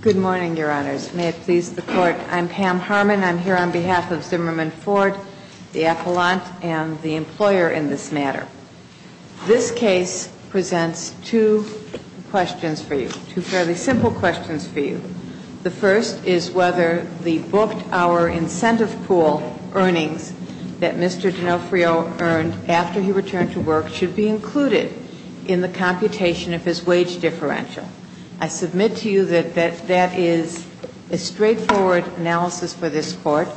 Good morning, your honors. May it please the court. I'm Pam Harmon. I'm here on behalf of Zimmerman Ford, the appellant, and the employer in this matter. This case presents two questions for you, two fairly simple questions for you. The first is whether the booked-hour incentive pool earnings that Mr. D'Onofrio earned after he returned to work should be included in the computation of his wage differential. I submit to you that that is a straightforward analysis for this Court.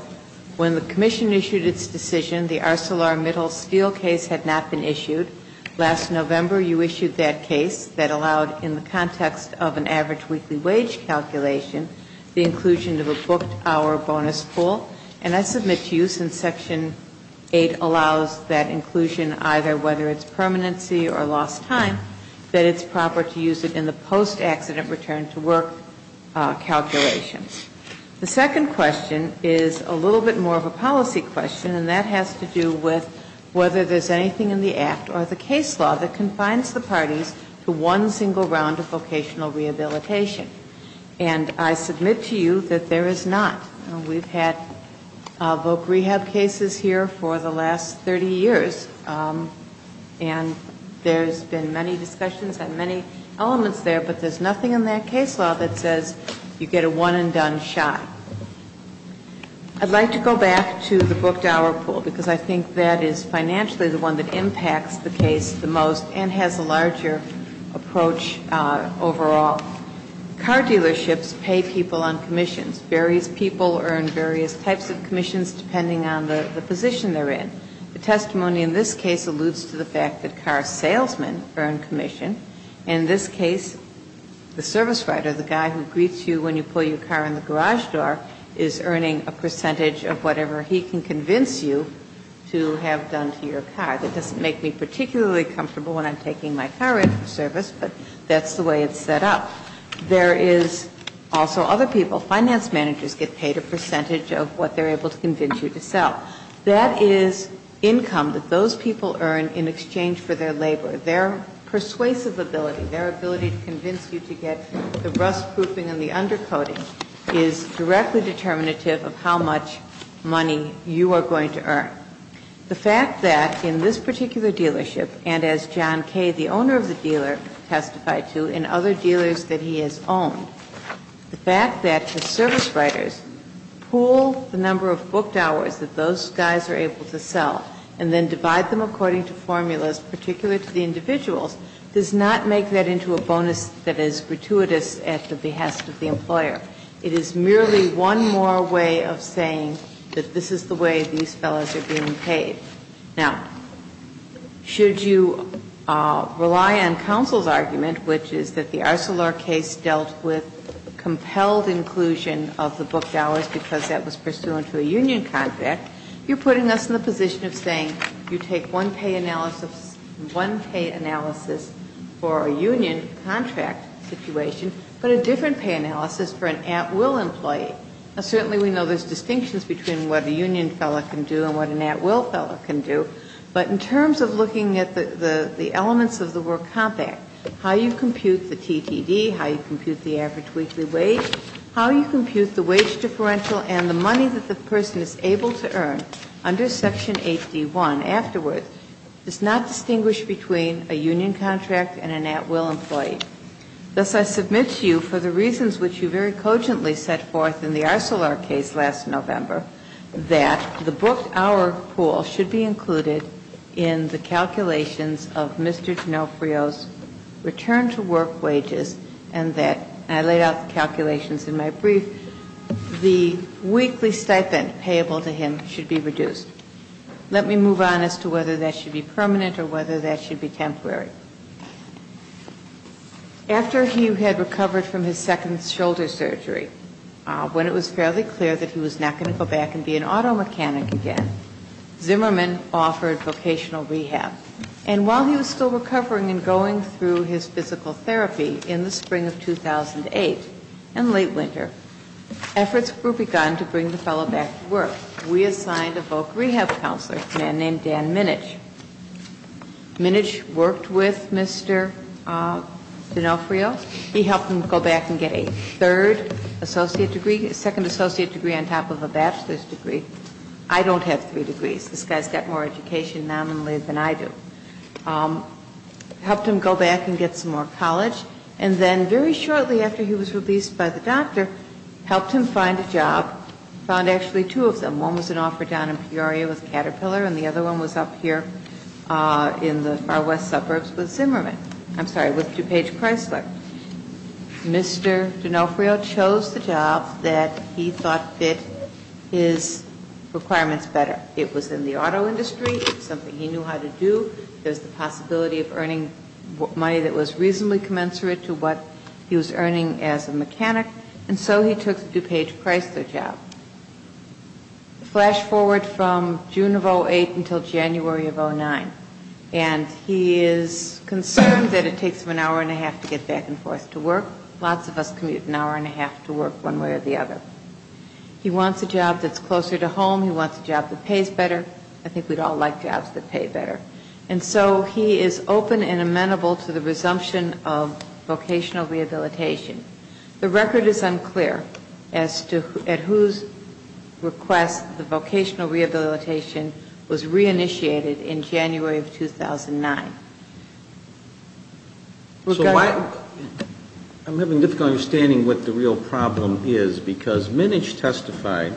When the Commission issued its decision, the ArcelorMittal steel case had not been issued. Last November, you issued that case that allowed, in the context of an average weekly wage calculation, the inclusion of a booked-hour bonus pool. And I submit to you since Section 8 allows that inclusion, either whether it's permanency or lost time, that it's proper to use it in the post-accident return-to-work calculations. The second question is a little bit more of a policy question, and that has to do with whether there's anything in the Act or the case law that confines the parties to one single round of vocational rehabilitation. And I submit to you that there is not. We've had voc rehab cases here for the last 30 years, and there's been many discussions on many elements there, but there's nothing in that case law that says you get a one-and-done shot. I'd like to go back to the booked-hour pool, because I think that is financially the one that impacts the case the most and has a larger approach overall. Car dealerships pay people on commissions. Various people earn various types of commissions depending on the position they're in. The testimony in this case alludes to the fact that car salesmen earn commission. In this case, the service writer, the guy who greets you when you pull your car in the garage door, is earning a percentage of whatever he can convince you to have done to your car. That doesn't make me particularly comfortable when I'm taking my car in for service, but that's the way it's set up. There is also other people, finance managers, get paid a percentage of what they're able to convince you to sell. That is income that those people earn in exchange for their labor. Their persuasive ability, their ability to convince you to get the rustproofing and the undercoating is directly determinative of how much money you are going to earn. The fact that in this particular dealership, and as John Kay, the owner of the dealer, testified to in other dealers that he has owned, the fact that the service writers pool the number of booked hours that those guys are able to sell and then divide them according to formulas, particular to the individuals, does not make that into a bonus that is gratuitous at the behest of the employer. It is merely one more way of saying that this is the way these fellows are being paid. Now, should you rely on counsel's argument, which is that the Arcelor case dealt with compelled inclusion of the booked hours because that was pursuant to a union contract, you're putting us in the position of saying you take one pay analysis for a union contract situation, but a different pay analysis for an at-will employee. Now, certainly we know there's distinctions between what a union fellow can do and what an at-will fellow can do, but in terms of looking at the elements of the work compact, how you compute the TTD, how you compute the average weekly wage, how you compute the wage differential and the money that the person is able to earn under Section 8D.1 afterwards does not distinguish between a union contract and an at-will employee. Thus, I submit to you for the reasons which you very cogently set forth in the Arcelor case last November, that the booked hour pool should be included in the calculations of Mr. D'Onofrio's return to work wages and that, and I laid out the calculations in my brief, the weekly stipend payable to him should be reduced. Let me move on as to whether that should be permanent or whether that should be temporary. After he had recovered from his second shoulder surgery, when it was fairly clear that he was not going to go back and be an auto mechanic again, Zimmerman offered vocational rehab. And while he was still recovering and going through his physical therapy in the spring of 2008 and late winter, efforts were begun to bring the fellow back to work. We assigned a voc rehab counselor, a man named Dan Minich. Minich worked with Mr. D'Onofrio. He helped him go back and get a third associate degree, a second associate degree on top of a bachelor's degree. I don't have three degrees. This guy's got more education nominally than I do. Helped him go back and get some more college. And then very shortly after he was released by the doctor, helped him find a job, found actually two of them. One was an offer down in Peoria with Caterpillar and the other one was up here in the far west suburbs with Zimmerman. I'm sorry, with DuPage Chrysler. Mr. D'Onofrio chose the job that he thought fit his requirements better. It was in the auto industry. It was something he knew how to do. There was the possibility of earning money that was reasonably commensurate to what he was earning as a mechanic. And so he took the DuPage Chrysler job. Flash forward from June of 2008 until January of 2009. And he is concerned that it takes him an hour and a half to get back and forth to work. Lots of us commute an hour and a half to work one way or the other. He wants a job that's closer to home. He wants a job that pays better. I think we'd all like jobs that pay better. And so he is open and amenable to the resumption of vocational rehabilitation. The record is unclear as to at whose request the vocational rehabilitation was reinitiated in January of 2009. I'm having a difficult understanding of what the real problem is because Minnich testified.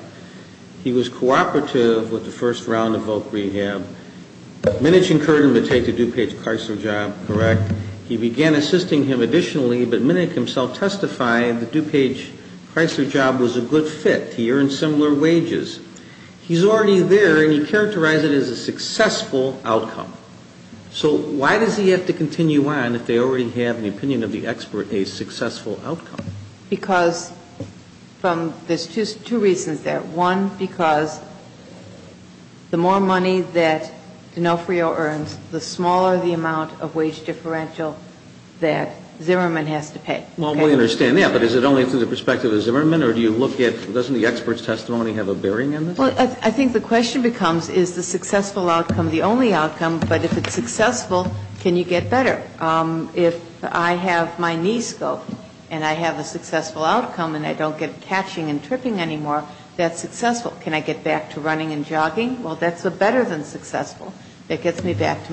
He was cooperative with the first round of voc rehab. Minnich encouraged him to take the DuPage Chrysler job, correct? He began assisting him additionally, but Minnich himself testified the DuPage Chrysler job was a good fit. He earned similar wages. He's already there, and he characterized it as a successful outcome. So why does he have to continue on if they already have an opinion of the expert a successful outcome? Because there's two reasons there. One, because the more money that D'Onofrio earns, the smaller the amount of wage differential that Zimmerman has to pay. Well, we understand that, but is it only through the perspective of Zimmerman, or do you look at, doesn't the expert's testimony have a bearing on this? Well, I think the question becomes, is the successful outcome the only outcome? But if it's successful, can you get better? If I have my knee scope and I have a successful outcome and I don't get catching and tripping anymore, that's successful. Can I get back to running and jogging? Well, that's better than successful. It gets me back to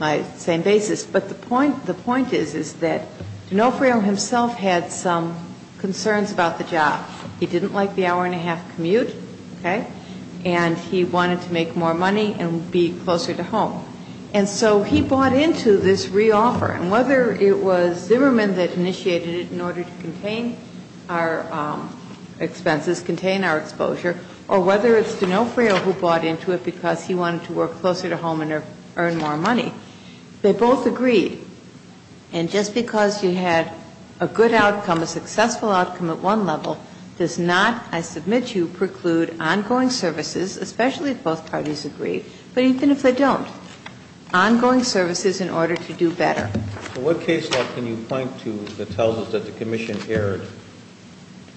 my same basis. But the point is, is that D'Onofrio himself had some concerns about the job. He didn't like the hour-and-a-half commute, okay? And he wanted to make more money and be closer to home. And so he bought into this reoffer. And whether it was Zimmerman that initiated it in order to contain our expenses, contain our exposure, or whether it's D'Onofrio who bought into it because he wanted to work closer to home and earn more money, they both agreed. And just because you had a good outcome, a successful outcome at one level, does not, I submit to you, preclude ongoing services, especially if both parties agree, but even if they don't, ongoing services in order to do better. But what case law can you point to that tells us that the commission erred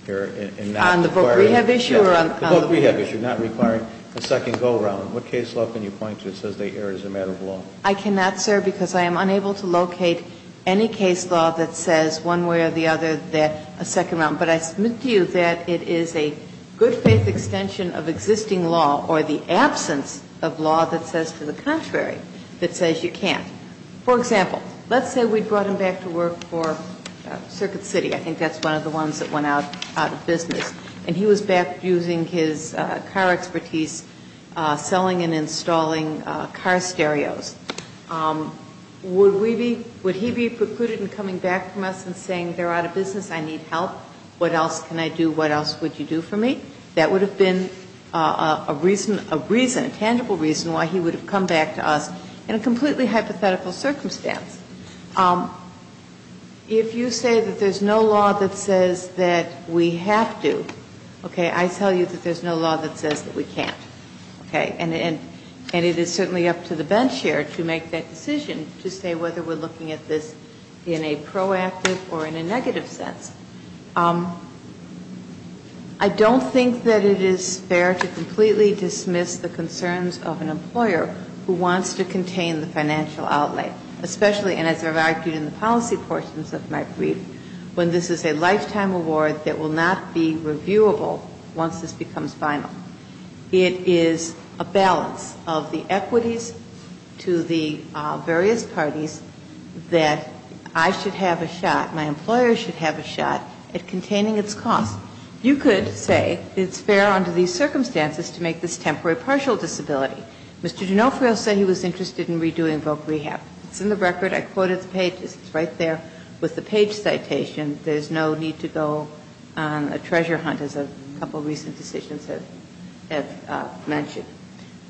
and not required? On the book rehab issue? Yes, the book rehab issue, not requiring a second go-around. What case law can you point to that says they erred as a matter of law? I cannot, sir, because I am unable to locate any case law that says one way or the other that a second round. But I submit to you that it is a good-faith extension of existing law or the absence of law that says to the contrary, that says you can't. For example, let's say we brought him back to work for Circuit City. I think that's one of the ones that went out of business. And he was back using his car expertise, selling and installing car stereos. Would we be, would he be precluded in coming back from us and saying they're out of business, I need help, what else can I do, what else would you do for me? That would have been a reason, a reason, a tangible reason why he would have come back to us in a completely hypothetical circumstance. If you say that there's no law that says that we have to, okay, I tell you that there's no law that says that we can't, okay. And it is certainly up to the bench here to make that decision to say whether we're looking at this in a proactive or in a negative sense. I don't think that it is fair to completely dismiss the concerns of an employer who wants to contain the financial outlay. Especially, and as I've argued in the policy portions of my brief, when this is a lifetime award that will not be reviewable once this becomes final. It is a balance of the equities to the various parties that I should have a shot, my employer should have a shot at containing its costs. You could say it's fair under these circumstances to make this temporary partial disability. Mr. D'Onofrio said he was interested in redoing Voc Rehab. It's in the record. I quoted the page. It's right there with the page citation. There's no need to go on a treasure hunt, as a couple of recent decisions have mentioned.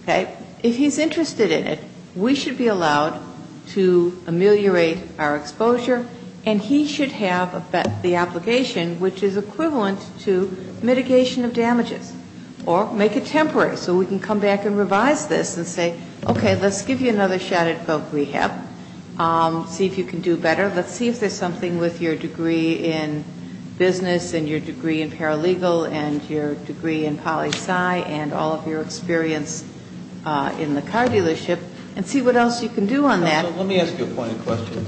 Okay. If he's interested in it, we should be allowed to ameliorate our exposure, and he should have the obligation, which is equivalent to mitigation of damages or make it temporary so we can come back and revise this and say, okay, let's give you another shot at Voc Rehab, see if you can do better. Let's see if there's something with your degree in business and your degree in paralegal and your degree in poli sci and all of your experience in the car dealership and see what else you can do on that. Let me ask you a point of question.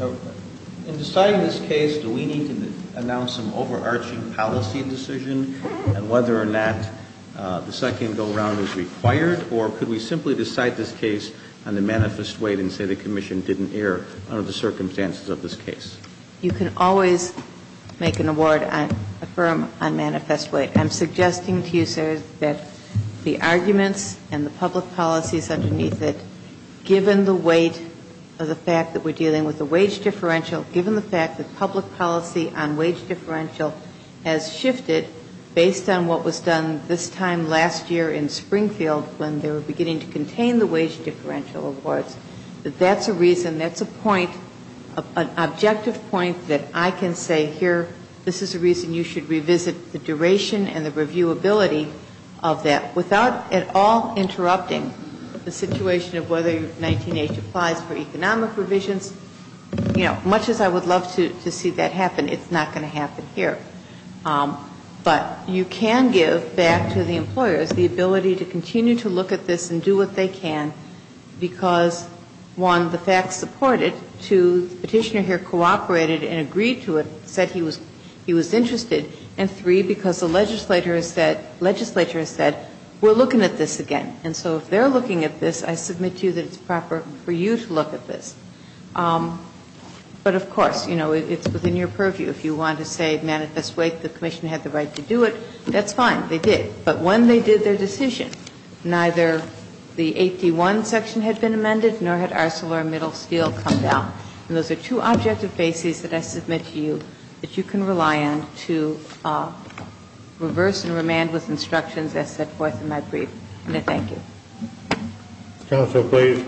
In deciding this case, do we need to announce an overarching policy decision and whether or not the second go-around is required, or could we simply decide this case on the manifest weight and say the commission didn't err under the circumstances of this case? You can always make an award on a firm on manifest weight. I'm suggesting to you, sir, that the arguments and the public policies underneath it, given the weight of the fact that we're dealing with a wage differential, given the fact that public policy on wage differential has shifted based on what was done this time last year in Springfield when they were beginning to contain the wage differential awards, that that's a reason, that's a point, an objective point that I can say here, this is a reason you should revisit the duration and the reviewability of that without at all interrupting the situation of whether 19-H applies for economic revisions. It's, you know, much as I would love to see that happen, it's not going to happen here. But you can give back to the employers the ability to continue to look at this and do what they can because, one, the facts support it. Two, the Petitioner here cooperated and agreed to it, said he was interested. And three, because the legislature has said we're looking at this again. And so if they're looking at this, I submit to you that it's proper for you to look at this. But, of course, you know, it's within your purview. If you want to say manifest weight, the Commission had the right to do it, that's fine, they did. But when they did their decision, neither the 8d1 section had been amended nor had ArcelorMittal's deal come down. And those are two objective bases that I submit to you that you can rely on to reverse and remand with instructions as set forth in my brief. And I thank you. Counsel, please.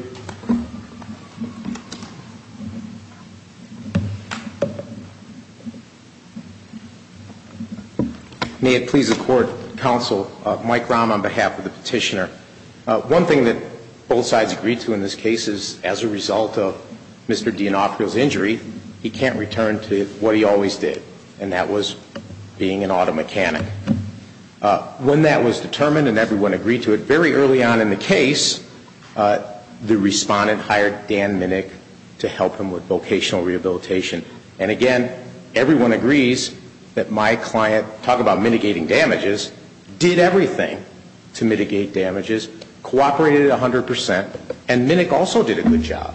May it please the Court, Counsel, Mike Rahm on behalf of the Petitioner. One thing that both sides agreed to in this case is as a result of Mr. D'Onofrio's injury, he can't return to what he always did, and that was being an auto mechanic. When that was determined and everyone agreed to it, very early on in the case, the respondent hired Dan Minnick to help him with vocational rehabilitation. And, again, everyone agrees that my client, talk about mitigating damages, did everything to mitigate damages, cooperated 100 percent, and Minnick also did a good job.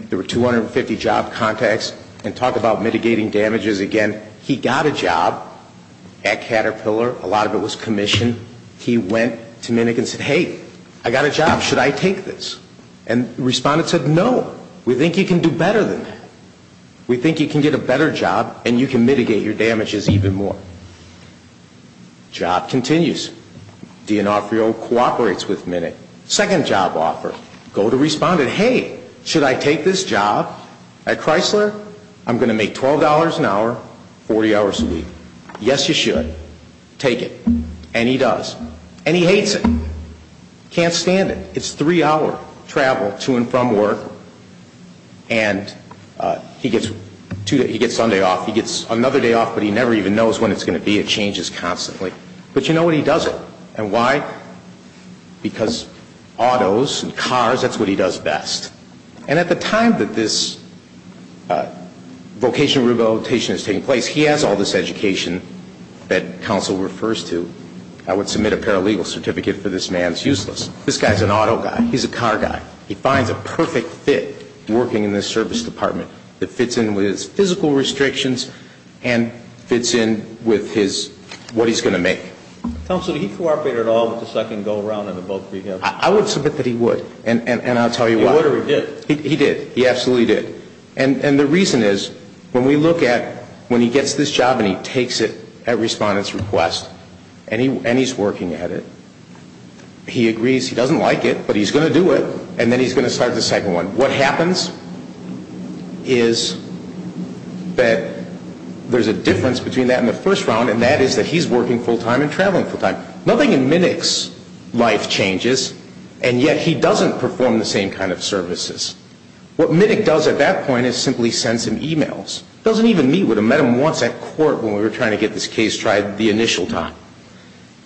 There were 250 job contacts, and talk about mitigating damages, again, he got a pillar, a lot of it was commission. He went to Minnick and said, hey, I got a job, should I take this? And the respondent said, no, we think you can do better than that. We think you can get a better job and you can mitigate your damages even more. Job continues. D'Onofrio cooperates with Minnick. Second job offer, go to respondent, hey, should I take this job at Chrysler? I'm going to make $12 an hour, 40 hours a week. Yes, you should. Take it. And he does. And he hates it. Can't stand it. It's three-hour travel to and from work, and he gets Sunday off. He gets another day off, but he never even knows when it's going to be. It changes constantly. But you know what? He does it. And why? Because autos and cars, that's what he does best. And at the time that this vocational rehabilitation is taking place, he has all this education that counsel refers to. I would submit a paralegal certificate for this man. It's useless. This guy is an auto guy. He's a car guy. He finds a perfect fit working in this service department that fits in with his physical restrictions and fits in with his what he's going to make. Counsel, did he cooperate at all with the second go-around in both rehabs? I would submit that he would. And I'll tell you why. He did. He did. He absolutely did. And the reason is when we look at when he gets this job and he takes it at respondent's request and he's working at it, he agrees he doesn't like it, but he's going to do it, and then he's going to start the second one. What happens is that there's a difference between that and the first round, and that is that he's working full-time and traveling full-time. Nothing in Minick's life changes, and yet he doesn't perform the same kind of services. What Minick does at that point is simply sends him e-mails. Doesn't even meet with him. Met him once at court when we were trying to get this case tried the initial time.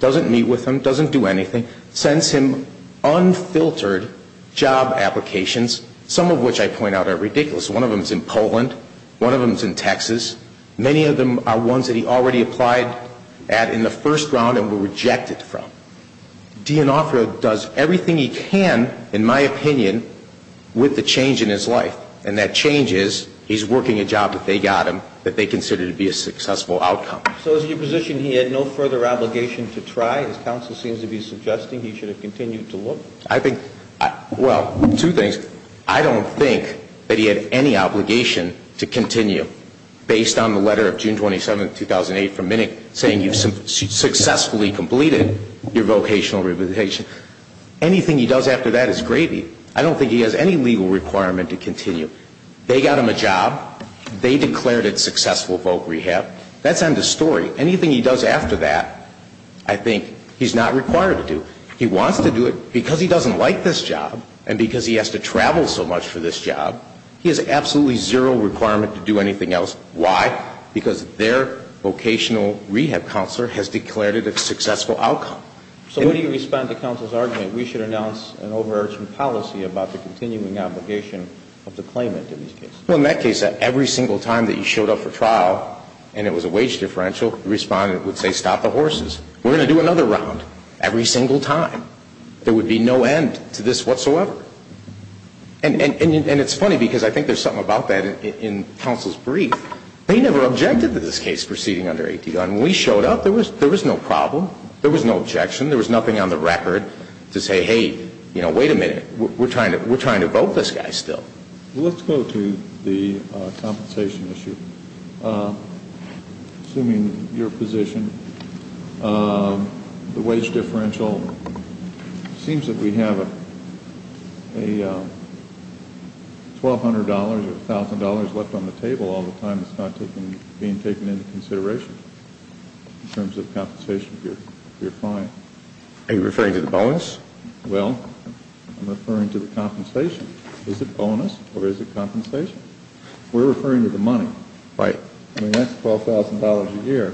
Doesn't meet with him. Doesn't do anything. Sends him unfiltered job applications, some of which I point out are ridiculous. One of them is in Poland. One of them is in Texas. Many of them are ones that he already applied at in the first round and were rejected from. D'Onofrio does everything he can, in my opinion, with the change in his life, and that change is he's working a job that they got him that they consider to be a successful outcome. So is it your position he had no further obligation to try? As counsel seems to be suggesting, he should have continued to look? I think, well, two things. I don't think that he had any obligation to continue based on the letter of your vocational rehabilitation. Anything he does after that is gravy. I don't think he has any legal requirement to continue. They got him a job. They declared it successful voc rehab. That's end of story. Anything he does after that, I think he's not required to do. He wants to do it because he doesn't like this job and because he has to travel so much for this job. He has absolutely zero requirement to do anything else. Why? Because their vocational rehab counselor has declared it a successful outcome. So when you respond to counsel's argument, we should announce an overarching policy about the continuing obligation of the claimant in this case? Well, in that case, every single time that he showed up for trial and it was a wage differential, the respondent would say, stop the horses. We're going to do another round. Every single time. There would be no end to this whatsoever. And it's funny because I think there's something about that in counsel's case proceeding under 8D. When we showed up, there was no problem. There was no objection. There was nothing on the record to say, hey, wait a minute. We're trying to vote this guy still. Let's go to the compensation issue. Assuming your position, the wage differential seems that we have a $1,200 or $1,000 left on the table all the time that's not being taken into consideration in terms of compensation if you're fine. Are you referring to the bonus? Well, I'm referring to the compensation. Is it bonus or is it compensation? We're referring to the money. Right. I mean, that's $12,000 a year.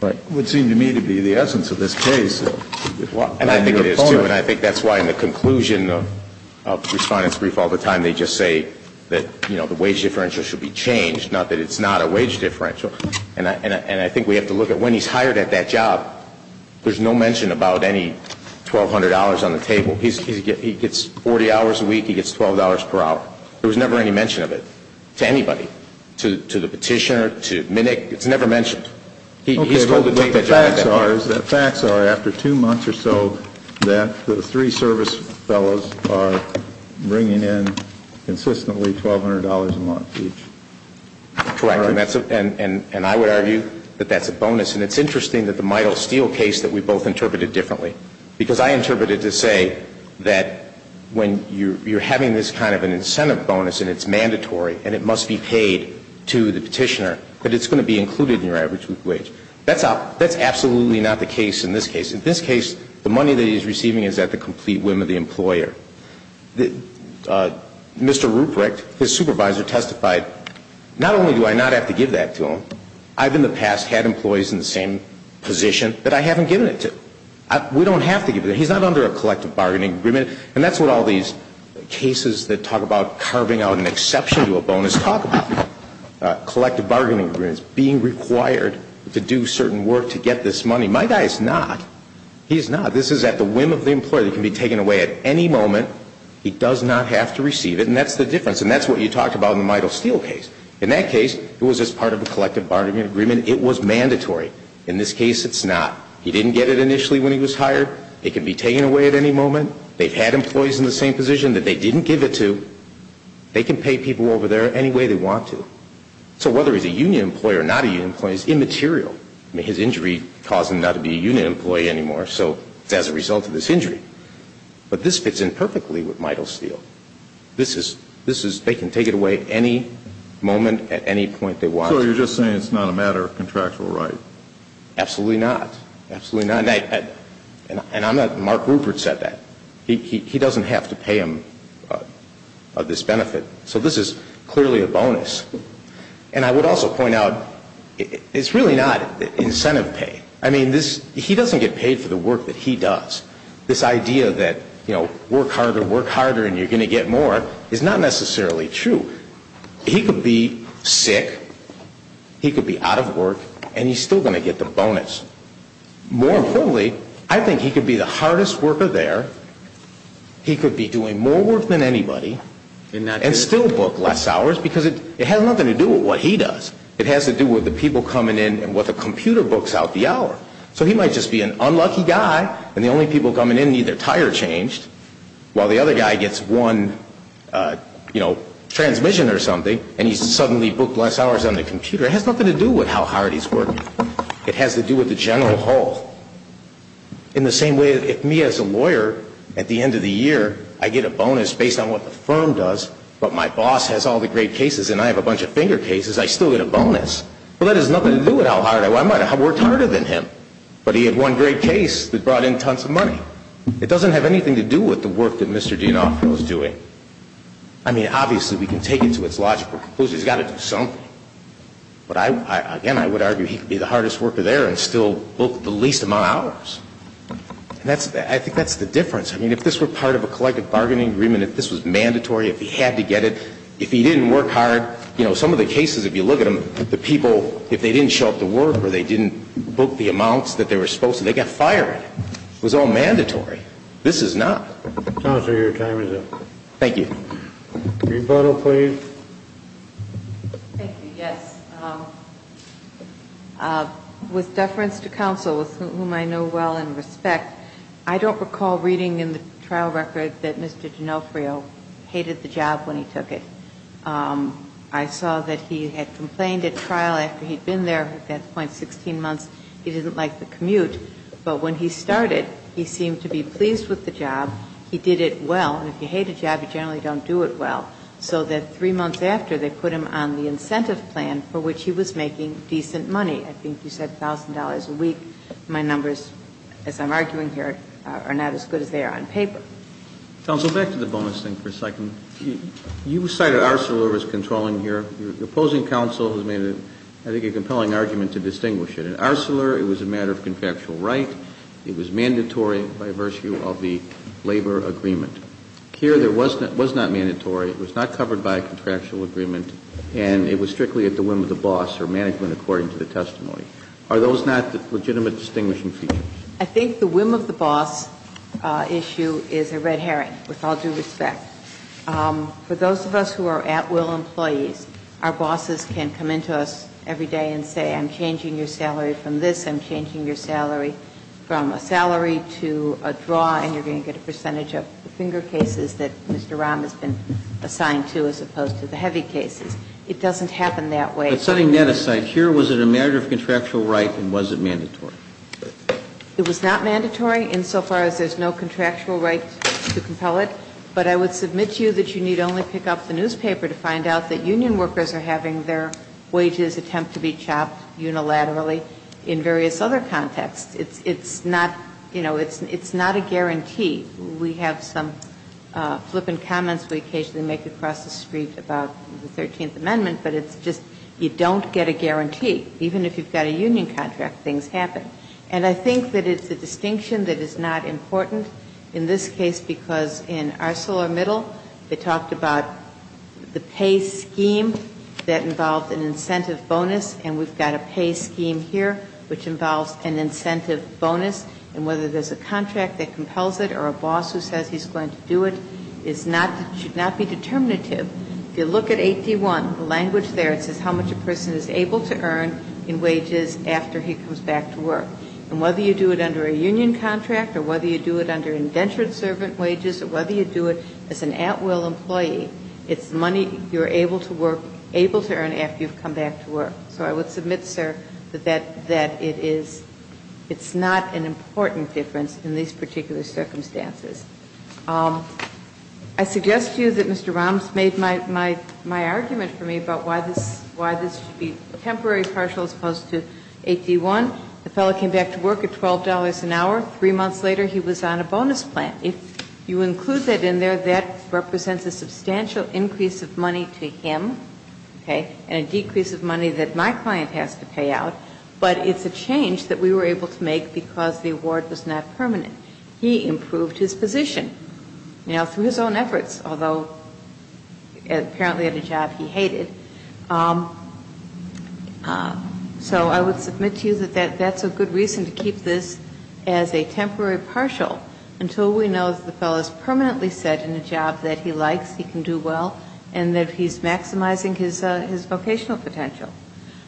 Right. It would seem to me to be the essence of this case. And I think it is, too, and I think that's why in the conclusion of respondent's brief all the time they just say that, you know, the wage differential should be changed, not that it's not a wage differential. And I think we have to look at when he's hired at that job. There's no mention about any $1,200 on the table. He gets 40 hours a week. He gets $12 per hour. There was never any mention of it to anybody, to the petitioner, to Mnick. It's never mentioned. Okay. The facts are, after two months or so, that the three service fellows are bringing in consistently $1,200 a month each. Correct. And I would argue that that's a bonus. And it's interesting that the Midel-Steele case that we both interpreted differently, because I interpreted it to say that when you're having this kind of an incentive bonus and it's mandatory and it must be paid to the petitioner, that it's going to be That's absolutely not the case in this case. In this case, the money that he's receiving is at the complete whim of the employer. Mr. Ruprecht, his supervisor, testified, not only do I not have to give that to him, I've in the past had employees in the same position that I haven't given it to. We don't have to give it. He's not under a collective bargaining agreement. And that's what all these cases that talk about carving out an exception to a bonus talk about, collective bargaining agreements, being required to do certain work to get this money. My guy is not. He is not. This is at the whim of the employer. It can be taken away at any moment. He does not have to receive it. And that's the difference. And that's what you talked about in the Midel-Steele case. In that case, it was as part of a collective bargaining agreement. It was mandatory. In this case, it's not. He didn't get it initially when he was hired. It can be taken away at any moment. They've had employees in the same position that they didn't give it to. They can pay people over there any way they want to. So whether he's a union employee or not a union employee, it's immaterial. I mean, his injury caused him not to be a union employee anymore. So it's as a result of this injury. But this fits in perfectly with Midel-Steele. This is they can take it away at any moment at any point they want. So you're just saying it's not a matter of contractual right? Absolutely not. Absolutely not. And Mark Rupert said that. He doesn't have to pay him this benefit. So this is clearly a bonus. And I would also point out it's really not incentive pay. I mean, he doesn't get paid for the work that he does. This idea that work harder, work harder, and you're going to get more is not necessarily true. He could be sick, he could be out of work, and he's still going to get the bonus. More importantly, I think he could be the hardest worker there, he could be doing more work than anybody, and still book less hours because it has nothing to do with what he does. It has to do with the people coming in and what the computer books out the hour. So he might just be an unlucky guy, and the only people coming in need their tire changed, while the other guy gets one, you know, transmission or something, and he's suddenly booked less hours on the computer. It has nothing to do with how hard he's working. It has to do with the general whole. In the same way, if me as a lawyer, at the end of the year, I get a bonus based on what the firm does, but my boss has all the great cases and I have a bunch of finger cases, I still get a bonus. Well, that has nothing to do with how hard I work. I might have worked harder than him, but he had one great case that brought in tons of money. It doesn't have anything to do with the work that Mr. D'Onofrio is doing. I mean, obviously, we can take it to its logical conclusion. He's got to do something. But, again, I would argue he could be the hardest worker there and still book the least amount of hours. I think that's the difference. I mean, if this were part of a collective bargaining agreement, if this was mandatory, if he had to get it, if he didn't work hard, you know, some of the cases, if you look at them, the people, if they didn't show up to work or they didn't book the amounts that they were supposed to, they got fired. It was all mandatory. This is not. Counselor, your time is up. Thank you. Rebuttal, please. Thank you. Yes. With deference to counsel, with whom I know well and respect, I don't recall reading in the trial record that Mr. D'Onofrio hated the job when he took it. I saw that he had complained at trial after he'd been there at that point 16 months he didn't like the commute. But when he started, he seemed to be pleased with the job. He did it well. And if you hate a job, you generally don't do it well. So that three months after, they put him on the incentive plan for which he was making decent money. I think you said $1,000 a week. My numbers, as I'm arguing here, are not as good as they are on paper. Counsel, back to the bonus thing for a second. You cited Arcelor as controlling here. Your opposing counsel has made, I think, a compelling argument to distinguish it. At Arcelor, it was a matter of contractual right. It was mandatory by virtue of the labor agreement. Here, it was not mandatory. It was not covered by a contractual agreement. And it was strictly at the whim of the boss or management according to the testimony. Are those not legitimate distinguishing features? I think the whim of the boss issue is a red herring, with all due respect. For those of us who are at-will employees, our bosses can come into us every day and say, I'm changing your salary from this, I'm changing your salary from a salary to a draw, and you're going to get a percentage of the finger cases that Mr. Rahm has been assigned to as opposed to the heavy cases. It doesn't happen that way. But setting that aside, here, was it a matter of contractual right and was it mandatory? It was not mandatory insofar as there's no contractual right to compel it. But I would submit to you that you need only pick up the newspaper to find out that union workers are having their wages attempt to be chopped unilaterally in various other contexts. It's not, you know, it's not a guarantee. We have some flippant comments we occasionally make across the street about the 13th Amendment, but it's just you don't get a guarantee. Even if you've got a union contract, things happen. And I think that it's a distinction that is not important in this case because in ArcelorMittal, they talked about the pay scheme that involved an incentive bonus, and we've got a pay scheme here which involves an incentive bonus. And whether there's a contract that compels it or a boss who says he's going to do it is not, should not be determinative. If you look at 8D1, the language there, it says how much a person is able to earn in wages after he comes back to work. And whether you do it under a union contract or whether you do it under indentured servant wages or whether you do it as an at-will employee, it's money you're able to work, able to earn after you've come back to work. So I would submit, sir, that it is, it's not an important difference in these particular circumstances. I suggest to you that Mr. Roms made my argument for me about why this should be temporary partial as opposed to 8D1. The fellow came back to work at $12 an hour. Three months later, he was on a bonus plan. If you include that in there, that represents a substantial increase of money to him, okay, and a decrease of money that my client has to pay out, but it's a change that we were able to make because the award was not permanent. He improved his position, you know, through his own efforts, although apparently at a job he hated. So I would submit to you that that's a good reason to keep this as a temporary partial until we know that the fellow is permanently set in a job that he likes, he can do well, and that he's maximizing his vocational potential.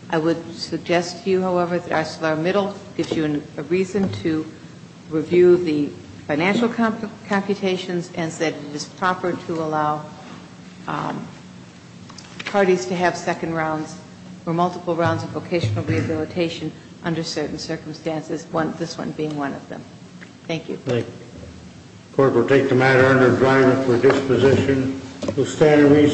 I would suggest to you, however, that ArcelorMittal gives you a reason to review the financial computations and that it is proper to allow parties to have second rounds or multiple rounds of vocational rehabilitation under certain circumstances, this one being one of them. Thank you. Thank you. The court will take the matter under adjournment for disposition. We'll stand in recess.